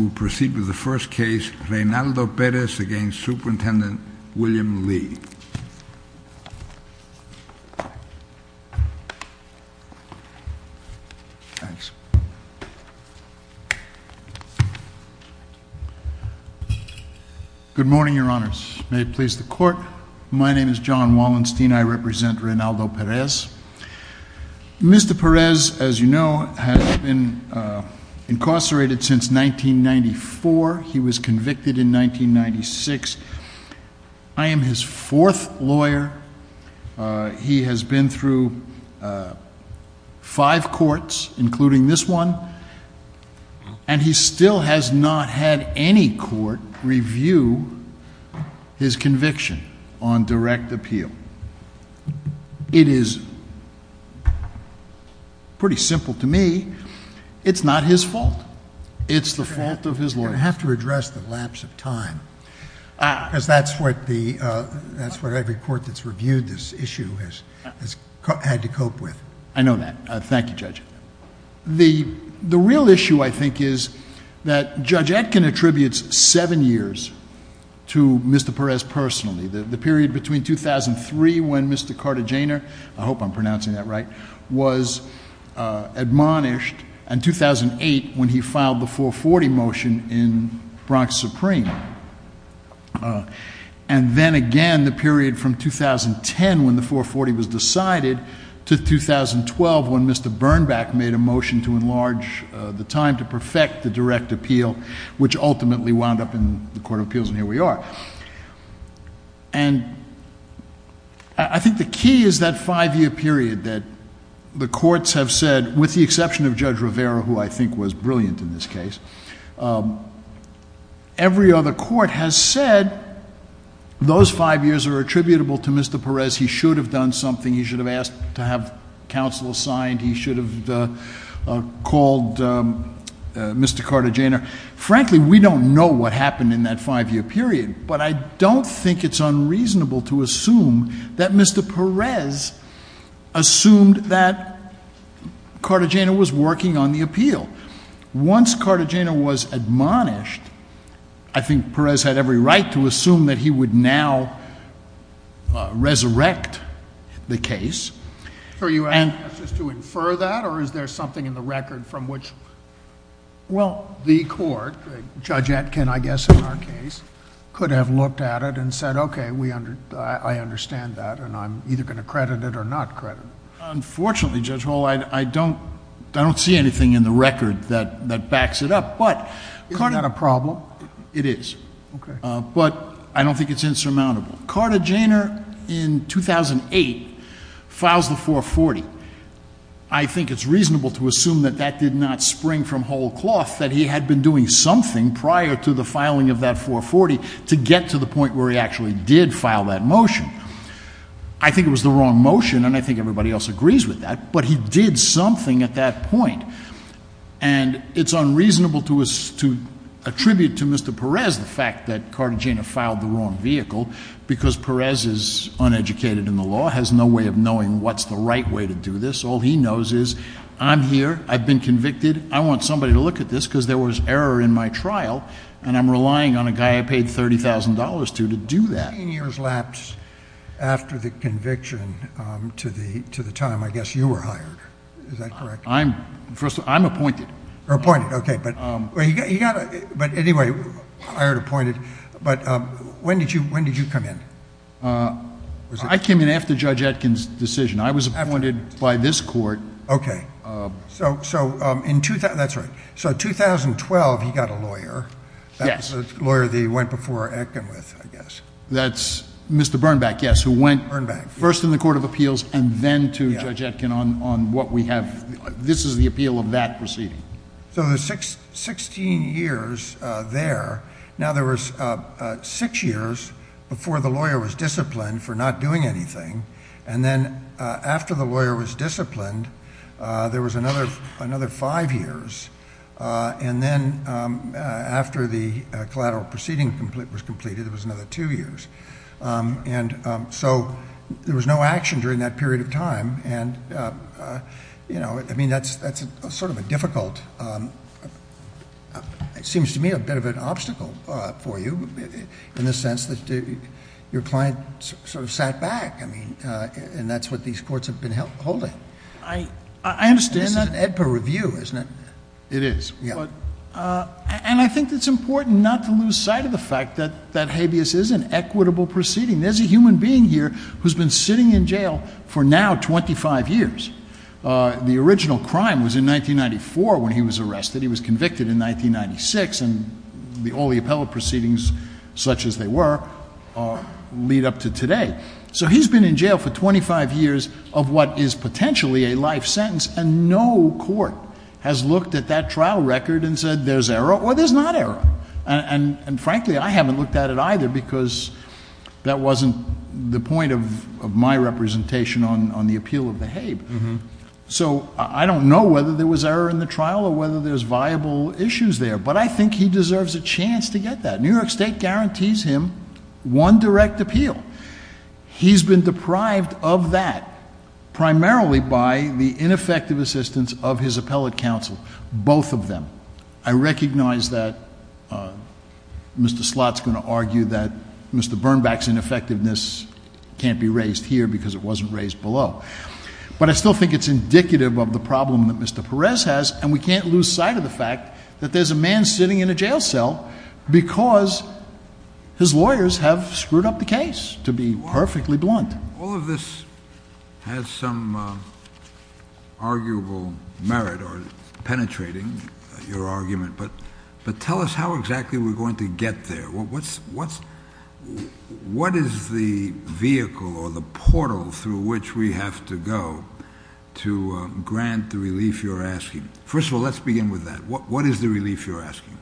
We will proceed with the first case, Reynaldo Perez v. Superintendent William Lee. Good morning, Your Honors. May it please the Court, my name is John Wallenstein, I represent Reynaldo Perez. Mr. Perez, as you know, has been incarcerated since 1994. He was convicted in 1996. I am his fourth lawyer. He has been through five courts, including this one, and he still has not had any court review his conviction on direct appeal. And it is pretty simple to me, it's not his fault, it's the fault of his lawyers. You're going to have to address the lapse of time, because that's what every court that's reviewed this issue has had to cope with. I know that. Thank you, Judge. The real issue, I think, is that Judge Etkin attributes seven years to Mr. Perez personally, the period between 2003, when Mr. Cartagena, I hope I'm pronouncing that right, was admonished, and 2008, when he filed the 440 motion in Bronx Supreme. And then again, the period from 2010, when the 440 was decided, to 2012, when Mr. Bernback made a motion to enlarge the time to perfect the direct appeal, which ultimately wound up in the Court of Appeals, and here we are. And I think the key is that five-year period that the courts have said, with the exception of Judge Rivera, who I think was brilliant in this case, every other court has said those five years are attributable to Mr. Perez, he should have done something, he should have asked to have counsel signed, he should have called Mr. Cartagena. Frankly, we don't know what happened in that five-year period, but I don't think it's unreasonable to assume that Mr. Perez assumed that Cartagena was working on the appeal. Once Cartagena was admonished, I think Perez had every right to assume that he would now resurrect the case. Are you asking us to infer that, or is there something in the record from which— Well, the court, Judge Atkin, I guess, in our case, could have looked at it and said, okay, I understand that, and I'm either going to credit it or not credit it. Unfortunately, Judge Hall, I don't see anything in the record that backs it up. But— Isn't that a problem? It is. Okay. But I don't think it's insurmountable. Cartagena, in 2008, files the 440. I think it's reasonable to assume that that did not spring from whole cloth, that he had been doing something prior to the filing of that 440 to get to the point where he actually did file that motion. I think it was the wrong motion, and I think everybody else agrees with that, but he did something at that point. And it's unreasonable to attribute to Mr. Perez the fact that Cartagena filed the wrong vehicle, because Perez is uneducated in the law, has no way of knowing what's the right way to do this. All he knows is, I'm here, I've been convicted, I want somebody to look at this, because there was error in my trial, and I'm relying on a guy I paid $30,000 to to do that. A few years lapsed after the conviction to the time, I guess, you were hired, is that correct? First of all, I'm appointed. You're appointed. Okay. But anyway, hired, appointed. But when did you come in? I came in after Judge Atkins' decision. I was appointed by this court... Okay. That's right. So in 2012, he got a lawyer. Yes. A lawyer that he went before Atkin with, I guess. That's Mr. Bernback, yes, who went first in the Court of Appeals and then to Judge Atkin on what we have... this is the appeal of that proceeding. So there's sixteen years there. Now there was six years before the lawyer was disciplined for not doing anything, and then after the lawyer was disciplined, there was another five years, and then after the collateral proceeding was completed, there was another two years. So there was no action during that period of time, and that's sort of a difficult... it seems to me a bit of an obstacle for you in the sense that your client sort of sat back, I mean, and that's what these courts have been holding. I understand that. And this is an AEDPA review, isn't it? It is. Yeah. And I think it's important not to lose sight of the fact that that habeas is an equitable proceeding. There's a human being here who's been sitting in jail for now twenty-five years. The original crime was in 1994 when he was arrested. He was convicted in 1996, and all the appellate proceedings, such as they were, lead up to today. So he's been in jail for twenty-five years of what is potentially a life sentence, and no court has looked at that trial record and said there's error or there's not error. And frankly, I haven't looked at it either because that wasn't the point of my representation on the appeal of the habe. So I don't know whether there was error in the trial or whether there's viable issues there, but I think he deserves a chance to get that. New York State guarantees him one direct appeal. He's been deprived of that, primarily by the ineffective assistance of his appellate counsel. Both of them. I recognize that Mr. Slott's going to argue that Mr. Bernbach's ineffectiveness can't be raised here because it wasn't raised below. But I still think it's indicative of the problem that Mr. Perez has, and we can't lose sight of the fact that there's a man sitting in a jail cell because his lawyers have screwed up the case, to be perfectly blunt. All of this has some arguable merit, or penetrating your argument, but tell us how exactly we're going to get there. What is the vehicle or the portal through which we have to go to grant the relief you're asking? First of all, let's begin with that. What is the relief you're asking?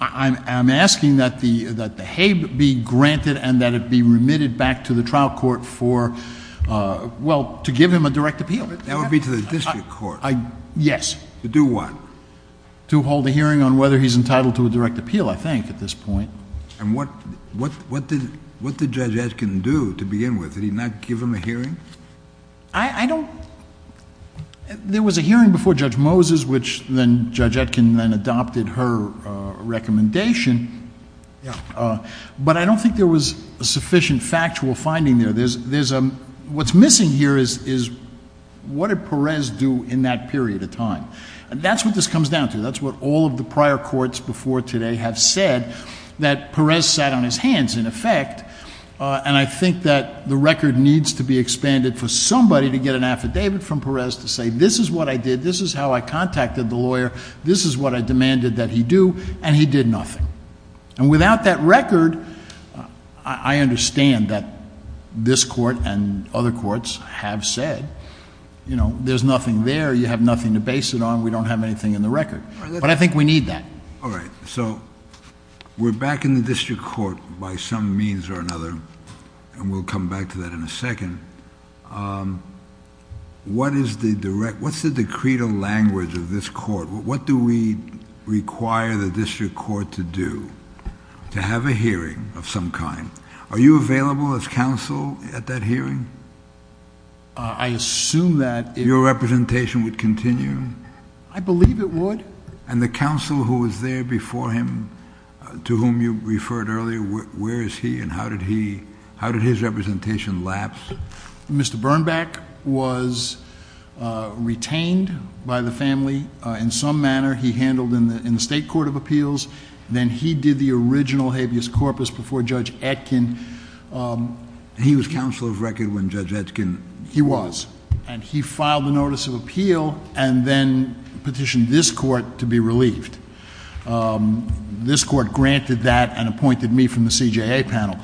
I'm asking that the Habe be granted and that it be remitted back to the trial court for — well, to give him a direct appeal. That would be to the district court. Yes. To do what? To hold a hearing on whether he's entitled to a direct appeal, I think, at this point. And what did Judge Eskin do to begin with? Did he not give him a hearing? I don't — there was a hearing before Judge Moses, which then Judge Eskin then adopted her recommendation, but I don't think there was a sufficient factual finding there. What's missing here is, what did Perez do in that period of time? That's what this comes down to. That's what all of the prior courts before today have said, that Perez sat on his hands in effect, and I think that the record needs to be expanded for somebody to get an affidavit from Perez to say, this is what I did, this is how I contacted the lawyer, this is what I demanded that he do, and he did nothing. And without that record, I understand that this court and other courts have said, you know, there's nothing there, you have nothing to base it on, we don't have anything in the record. But I think we need that. All right. So, we're back in the district court by some means or another, and we'll come back to that in a second. What is the direct — what's the decreed language of this court? What do we require the district court to do? To have a hearing of some kind. Are you available as counsel at that hearing? I assume that if — Your representation would continue? I believe it would. And the counsel who was there before him, to whom you referred earlier, where is he and how did he — how did his representation lapse? Mr. Bernbeck was retained by the family in some manner. He handled in the state court of appeals. Then he did the original habeas corpus before Judge Etkin. He was counsel of record when Judge Etkin — He was. And he filed a notice of appeal and then petitioned this court to be relieved. This court granted that and appointed me from the CJA panel.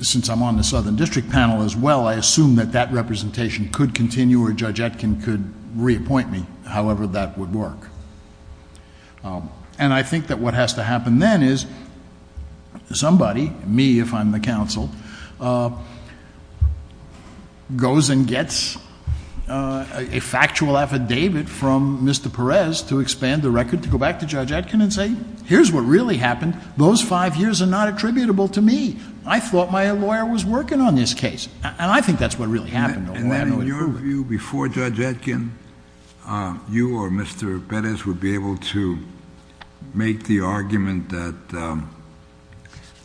Since I'm on the Southern District panel as well, I assume that that representation could continue or Judge Etkin could reappoint me, however that would work. And I think that what has to happen then is somebody — me, if I'm the counsel — goes and gets a factual affidavit from Mr. Perez to expand the record, to go back to Judge Etkin and say, here's what really happened. Those five years are not attributable to me. I thought my lawyer was working on this case. And I think that's what really happened, although I have no way to prove it. And in your view, before Judge Etkin, you or Mr. Perez would be able to make the argument that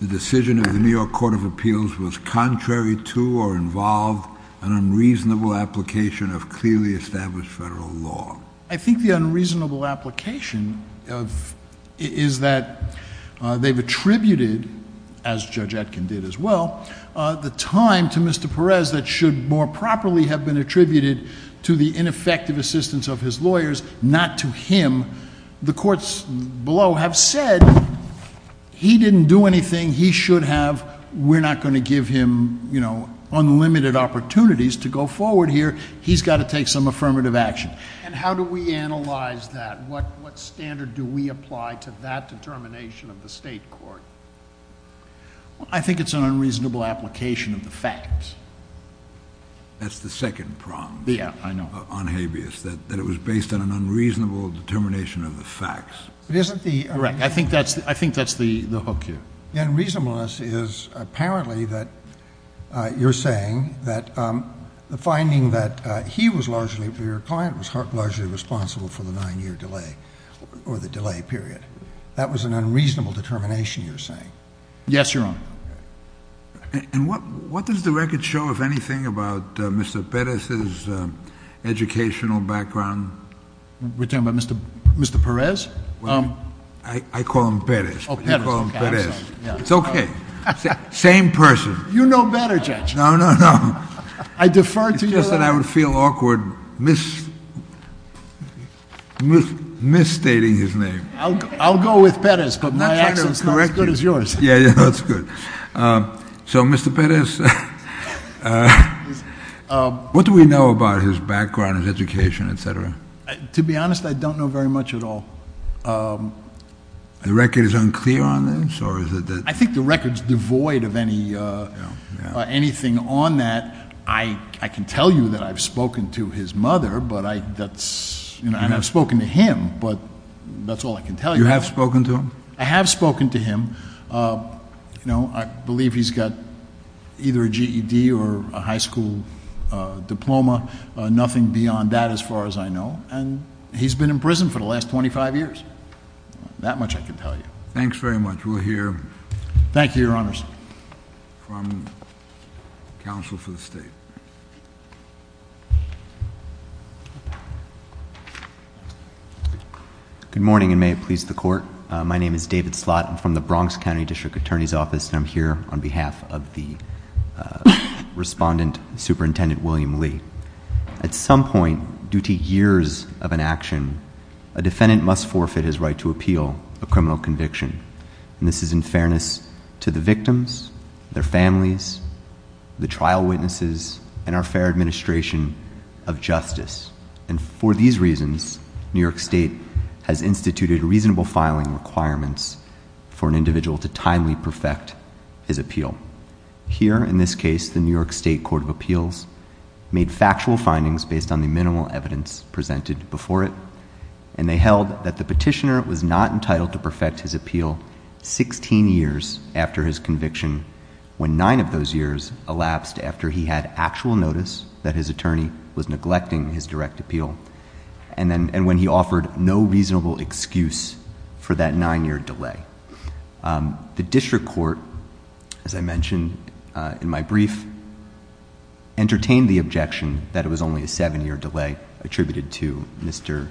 the decision of the New York Court of Appeals was contrary to or involved an unreasonable application of clearly established federal law. I think the unreasonable application is that they've attributed, as Judge Etkin did as well, the time to Mr. Perez that should more properly have been attributed to the ineffective assistance of his lawyers, not to him. The courts below have said he didn't do anything he should have. We're not going to give him, you know, unlimited opportunities to go forward here. He's got to take some affirmative action. And how do we analyze that? What standard do we apply to that determination of the state court? I think it's an unreasonable application of the facts. That's the second prong. Yeah, I know. On habeas, that it was based on an unreasonable determination of the facts. But isn't the — Correct. I think that's the hook here. The unreasonableness is apparently that you're saying that the finding that he was largely — your client was largely responsible for the nine-year delay, or the delay period. That was an unreasonable determination you're saying. Yes, Your Honor. And what does the record show, if anything, about Mr. Perez's educational background? We're talking about Mr. Perez? I call him Perez. Oh, Perez. Okay, I'm sorry. It's okay. Same person. You know better, Judge. No, no, no. I defer to your — It's just that I would feel awkward misstating his name. I'll go with Perez, but my accent's not as good as yours. Yeah, that's good. So Mr. Perez, what do we know about his background, his education, et cetera? To be honest, I don't know very much at all. The record is unclear on this, or is it that — I think the record's devoid of anything on that. I can tell you that I've spoken to his mother, and I've spoken to him, but that's all I can tell you. You have spoken to him? I have spoken to him. I believe he's got either a GED or a high school diploma, nothing beyond that as far as I know. And he's been in prison for the last 25 years. That much I can tell you. Thanks very much. We'll hear — Thank you, Your Honors. — from counsel for the state. Good morning, and may it please the Court. My name is David Slott. I'm from the Bronx County District Attorney's Office, and I'm here on behalf of the Respondent Superintendent William Lee. At some point, due to years of inaction, a defendant must forfeit his right to appeal a criminal conviction. And this is in fairness to the victims, their families, the trial witnesses, and our fair administration of justice. And for these reasons, New York State has instituted reasonable filing requirements for an individual to timely perfect his appeal. Here, in this case, the New York State Court of Appeals made factual findings based on the minimal evidence presented before it, and they held that the petitioner was not entitled to perfect his appeal 16 years after his conviction, when nine of those years elapsed after he had actual notice that his attorney was neglecting his direct appeal, and when he offered no reasonable excuse for that nine-year delay. The district court, as I mentioned in my brief, entertained the objection that it was only a seven-year delay attributed to Mr.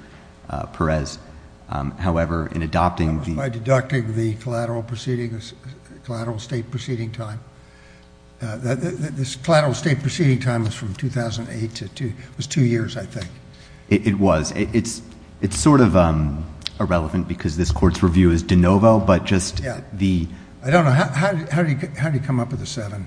Perez. However, in adopting the— That was by deducting the collateral state proceeding time. This collateral state proceeding time was from 2008 to... it was two years, I think. It was. It's sort of irrelevant because this Court's review is de novo, but just the... Yeah. I don't know. How did he come up with a seven?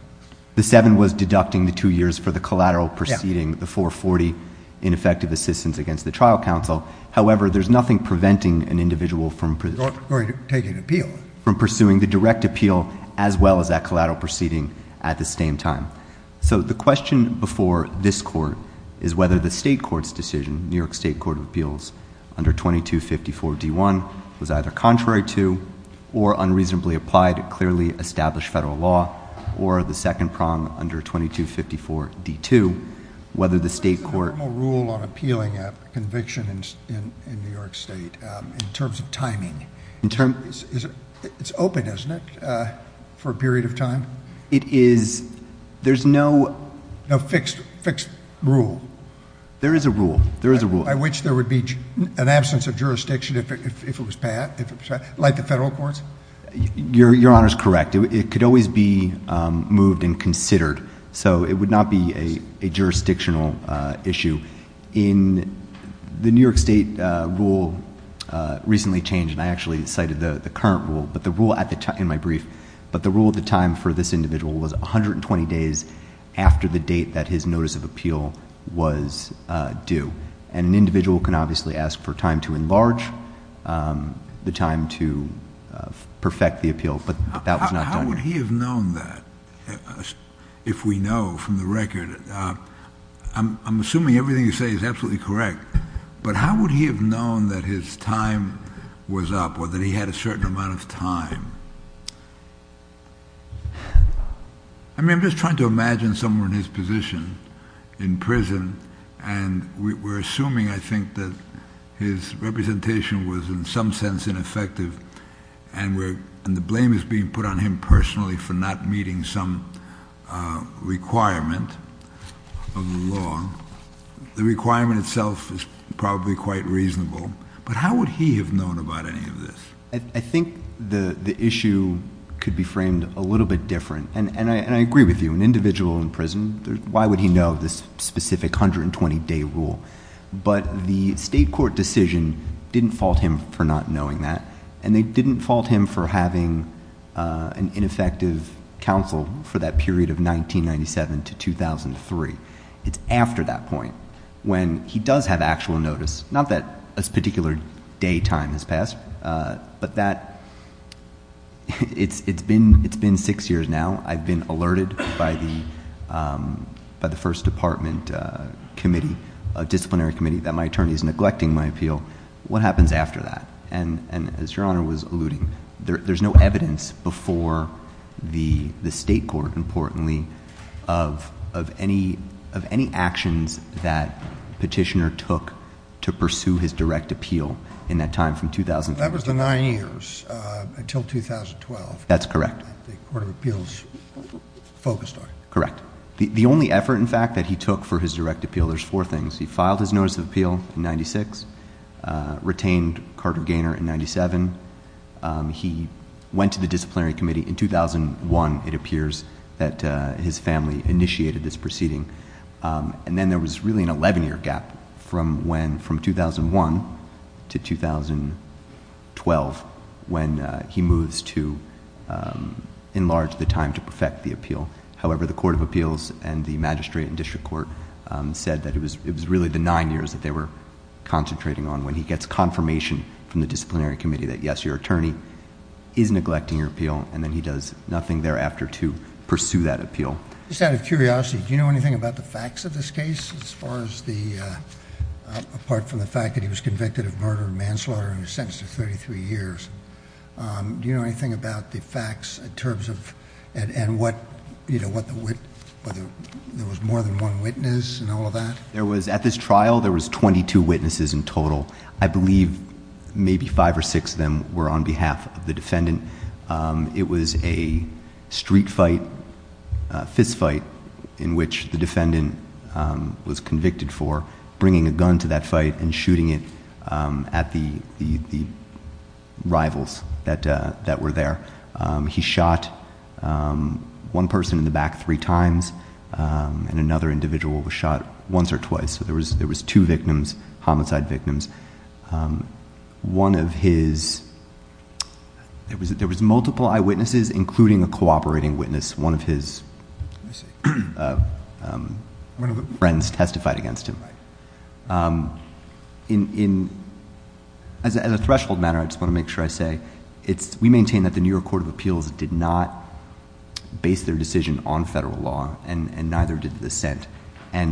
The seven was deducting the two years for the collateral proceeding, the 440 in effective assistance against the trial counsel. However, there's nothing preventing an individual from... Going to take an appeal.... from pursuing the direct appeal as well as that collateral proceeding at the same time. So the question before this Court is whether the state court's decision, New York State Court of Appeals, under 2254d1, was either contrary to or unreasonably applied to clearly established federal law, or the second prong under 2254d2, whether the state court... What is the normal rule on appealing a conviction in New York State in terms of timing? It's open, isn't it, for a period of time? It is. There's no... No fixed rule? There is a rule. There is a rule. By which there would be an absence of jurisdiction if it was passed, like the federal courts? Your Honor's correct. It could always be moved and considered, so it would not be a jurisdictional issue. In... the New York State rule recently changed, and I actually cited the current rule, but the rule at the time... in my brief, but the rule at the time for this individual was 120 days after the date that his notice of appeal was due. And an individual can obviously ask for time to enlarge, the time to perfect the appeal, but that was not done. How would he have known that if we know from the record? I'm assuming everything you say is absolutely correct, but how would he have known that his time was up, or that he had a certain amount of time? I mean, I'm just trying to imagine someone in his position in prison, and we're assuming, I think, that his representation was in some sense ineffective, and the blame is being put on him personally for not meeting some requirement of the law. The requirement itself is probably quite reasonable, but how would he have known about any of this? I think the issue could be framed a little bit different, and I agree with you. An individual in prison, why would he know of this specific 120-day rule? But the state court decision didn't fault him for not knowing that, and they didn't have an ineffective counsel for that period of 1997 to 2003. It's after that point, when he does have actual notice, not that a particular day time has passed, but that, it's been six years now, I've been alerted by the first department committee, a disciplinary committee, that my attorney is neglecting my appeal. What happens after that? And as your Honor was alluding, there's no evidence before the state court, importantly, of any actions that Petitioner took to pursue his direct appeal in that time from 2003. That was the nine years until 2012. That's correct. That the Court of Appeals focused on. Correct. The only effort, in fact, that he took for his direct appeal, there's four things. He filed his notice of appeal in 1996, retained Carter Gaynor in 1997. He went to the disciplinary committee in 2001, it appears, that his family initiated this proceeding. Then, there was really an eleven-year gap from 2001 to 2012, when he moves to enlarge the time to perfect the appeal. However, the Court of Appeals and the magistrate and district court said that it was really the nine years that they were concentrating on, when he gets confirmation from the disciplinary committee that, yes, your attorney is neglecting your appeal, and then he does nothing thereafter to pursue that appeal. Just out of curiosity, do you know anything about the facts of this case, as far as the... apart from the fact that he was convicted of murder and manslaughter and he was sentenced to thirty-three years. Do you know anything about the facts in terms of... and what the... there was more than one witness in all of that? At this trial, there was twenty-two witnesses in total. I believe maybe five or six of them were on behalf of the defendant. It was a street fight, a fist fight, in which the defendant was convicted for bringing a that were there. He shot one person in the back three times, and another individual was shot once or twice. There was two victims, homicide victims. One of his... there was multiple eyewitnesses, including a cooperating witness. One of his friends testified against him. As a threshold matter, I just want to make sure I say, we maintain that the New York Court of Appeals did not base their decision on federal law, and neither did dissent.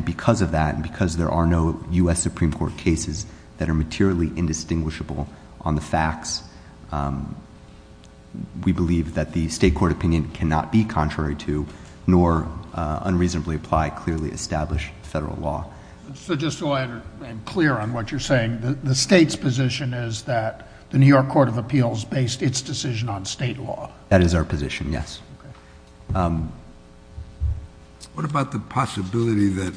Because of that, and because there are no U.S. Supreme Court cases that are materially indistinguishable on the facts, we believe that the state court opinion cannot be contrary to nor unreasonably apply clearly established federal law. So just so I am clear on what you're saying, the state's position is that the New York Court of Appeals based its decision on state law? That is our position, yes. What about the possibility that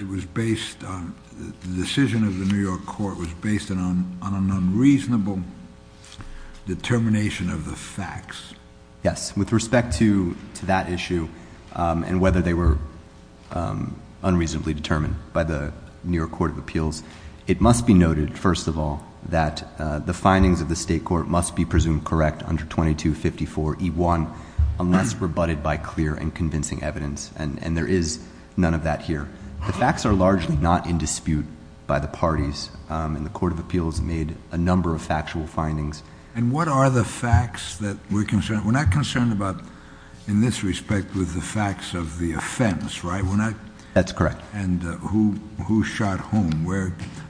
it was based on... the decision of the New York Court was based on an unreasonable determination of the facts? Yes. With respect to that issue, and whether they were unreasonably determined by the New York Court of Appeals, it must be noted, first of all, that the findings of the state court must be presumed correct under 2254E1, unless rebutted by clear and convincing evidence. And there is none of that here. The facts are largely not in dispute by the parties, and the Court of Appeals made a number of factual findings. And what are the facts that we're concerned... we're not concerned about, in this respect, with the facts of the offense, right? We're not... That's correct. And who shot whom?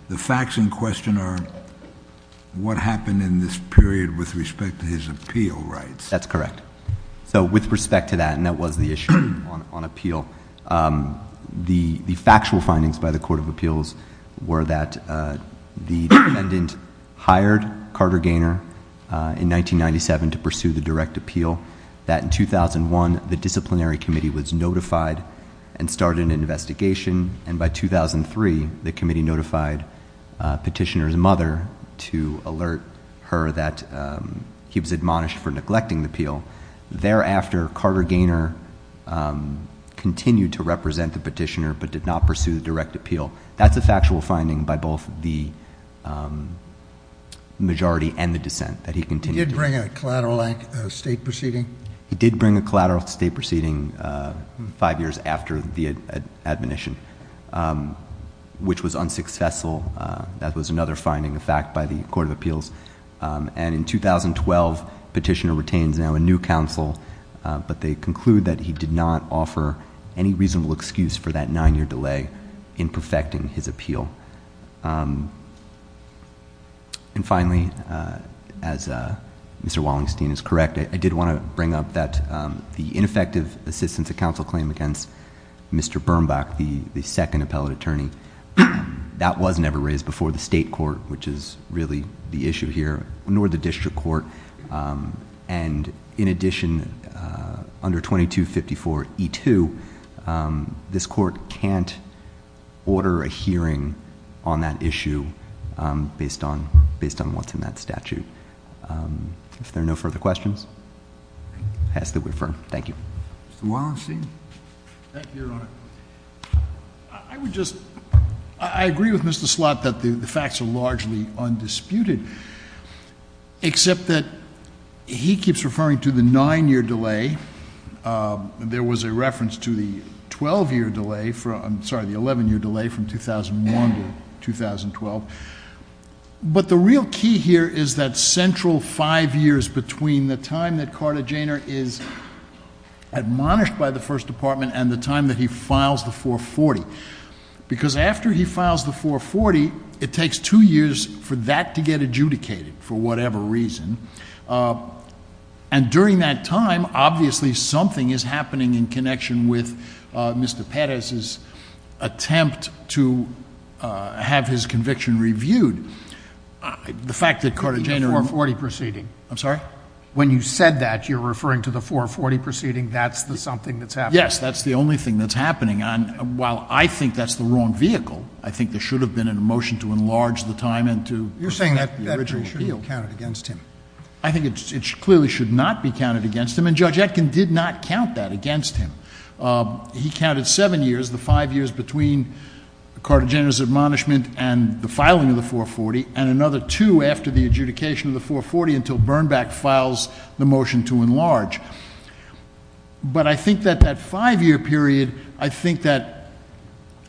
The facts in question are what happened in this period with respect to his appeal rights. That's correct. So, with respect to that, and that was the issue on appeal, the factual findings by the in 1997 to pursue the direct appeal, that in 2001, the disciplinary committee was notified and started an investigation, and by 2003, the committee notified Petitioner's mother to alert her that he was admonished for neglecting the appeal. Thereafter, Carter Gaynor continued to represent the Petitioner, but did not pursue the direct appeal. That's a factual finding by both the majority and the dissent, that he continued... He did bring a collateral state proceeding? He did bring a collateral state proceeding five years after the admonition, which was unsuccessful. That was another finding, in fact, by the Court of Appeals. And in 2012, Petitioner retains now a new counsel, but they conclude that he did not offer any reasonable excuse for that nine-year delay in perfecting his appeal. And finally, as Mr. Wallenstein is correct, I did want to bring up that the ineffective assistance of counsel claim against Mr. Birnbach, the second appellate attorney, that was never raised before the state court, which is really the issue here, nor the district court. And in addition, under 2254E2, this court can't order a hearing on that issue based on what's in that statute. If there are no further questions, I ask that we refer. Thank you. Mr. Wallenstein? Back here on a... I would just... I agree with Mr. Slott that the facts are largely undisputed, except that he keeps referring to the nine-year delay. There was a reference to the 12-year delay for... I'm sorry, the 11-year delay from 2001 to 2012. But the real key here is that central five years between the time that Carta Janor is admonished by the First Department and the time that he files the 440. Because after he files the 440, it takes two years for that to get adjudicated, for whatever reason. And during that time, obviously, something is happening in connection with Mr. Pettis's attempt to have his conviction reviewed. The fact that Carta Janor... The 440 proceeding. I'm sorry? When you said that, you're referring to the 440 proceeding. Yes. That's the only thing that's happening. While I think that's the wrong vehicle, I think there should have been a motion to enlarge the time and to... You're saying that shouldn't be counted against him. I think it clearly should not be counted against him, and Judge Etkin did not count that against him. He counted seven years, the five years between Carta Janor's admonishment and the filing of the 440, and another two after the adjudication of the 440 until Bernback files the motion to enlarge. But I think that that five-year period, I think that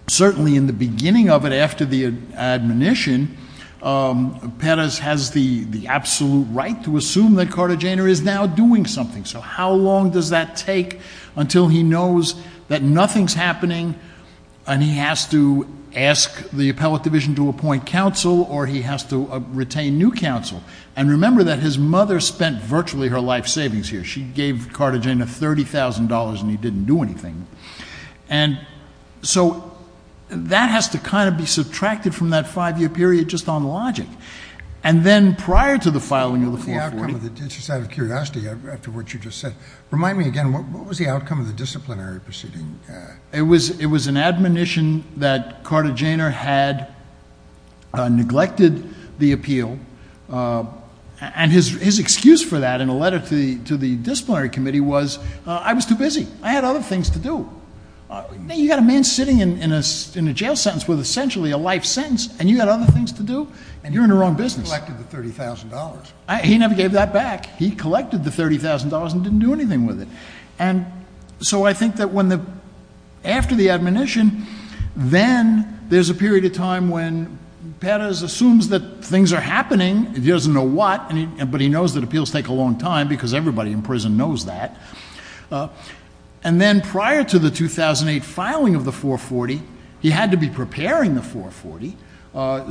certainly in the beginning of it, after the admonition, Pettis has the absolute right to assume that Carta Janor is now doing something. So how long does that take until he knows that nothing's happening, and he has to ask the appellate division to appoint counsel, or he has to retain new counsel? And remember that his mother spent virtually her life savings here. She gave Carta Janor $30,000 and he didn't do anything. And so that has to kind of be subtracted from that five-year period just on logic. And then prior to the filing of the 440... Just out of curiosity, after what you just said, remind me again, what was the outcome of the disciplinary proceeding? It was an admonition that Carta Janor had neglected the appeal, and his excuse for that in a letter to the disciplinary committee was, I was too busy. I had other things to do. You've got a man sitting in a jail sentence with essentially a life sentence, and you had other things to do, and you're in the wrong business. He collected the $30,000. He never gave that back. He collected the $30,000 and didn't do anything with it. And so I think that when the... after the admonition, then there's a period of time when Pettis assumes that things are happening, he doesn't know what, but he knows that appeals take a long time because everybody in prison knows that. And then prior to the 2008 filing of the 440, he had to be preparing the 440.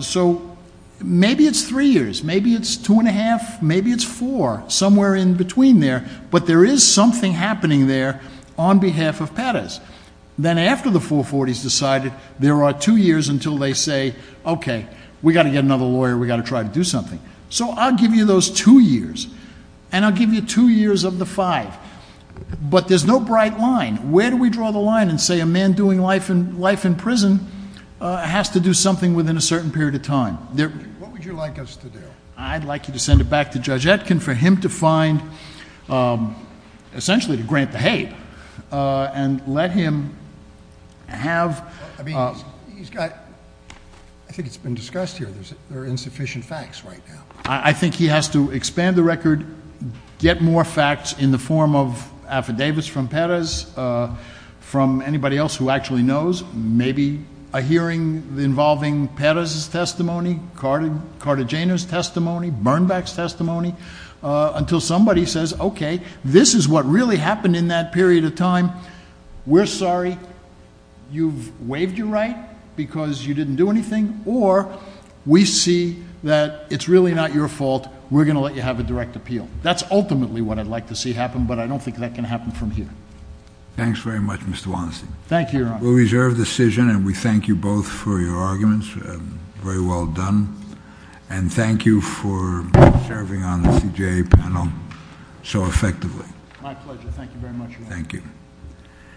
So maybe it's three years, maybe it's two and a half, maybe it's four, somewhere in between there. But there is something happening there on behalf of Pettis. Then after the 440 is decided, there are two years until they say, okay, we've got to get another lawyer. We've got to try to do something. So I'll give you those two years, and I'll give you two years of the five. But there's no bright line. Where do we draw the line and say a man doing life in prison has to do something within a certain period of time? What would you like us to do? I'd like you to send it back to Judge Etkin for him to find... essentially to grant the hate and let him have... I mean, he's got... I think it's been discussed here. There are insufficient facts right now. I think he has to expand the record, get more facts in the form of affidavits from Pettis, from anybody else who actually knows, maybe a hearing involving Pettis' testimony, Cartagena's testimony, Bernbeck's testimony, until somebody says, okay, this is what really happened in that period of time. We're sorry. You've waived your right because you didn't do anything. Or we see that it's really not your fault. We're going to let you have a direct appeal. That's ultimately what I'd like to see happen, but I don't think that can happen from here. Thanks very much, Mr. Wallenstein. Thank you, Your Honor. We'll reserve the decision, and we thank you both for your arguments. Very well done. And thank you for serving on the CJA panel so effectively. My pleasure. Thank you very much, Your Honor.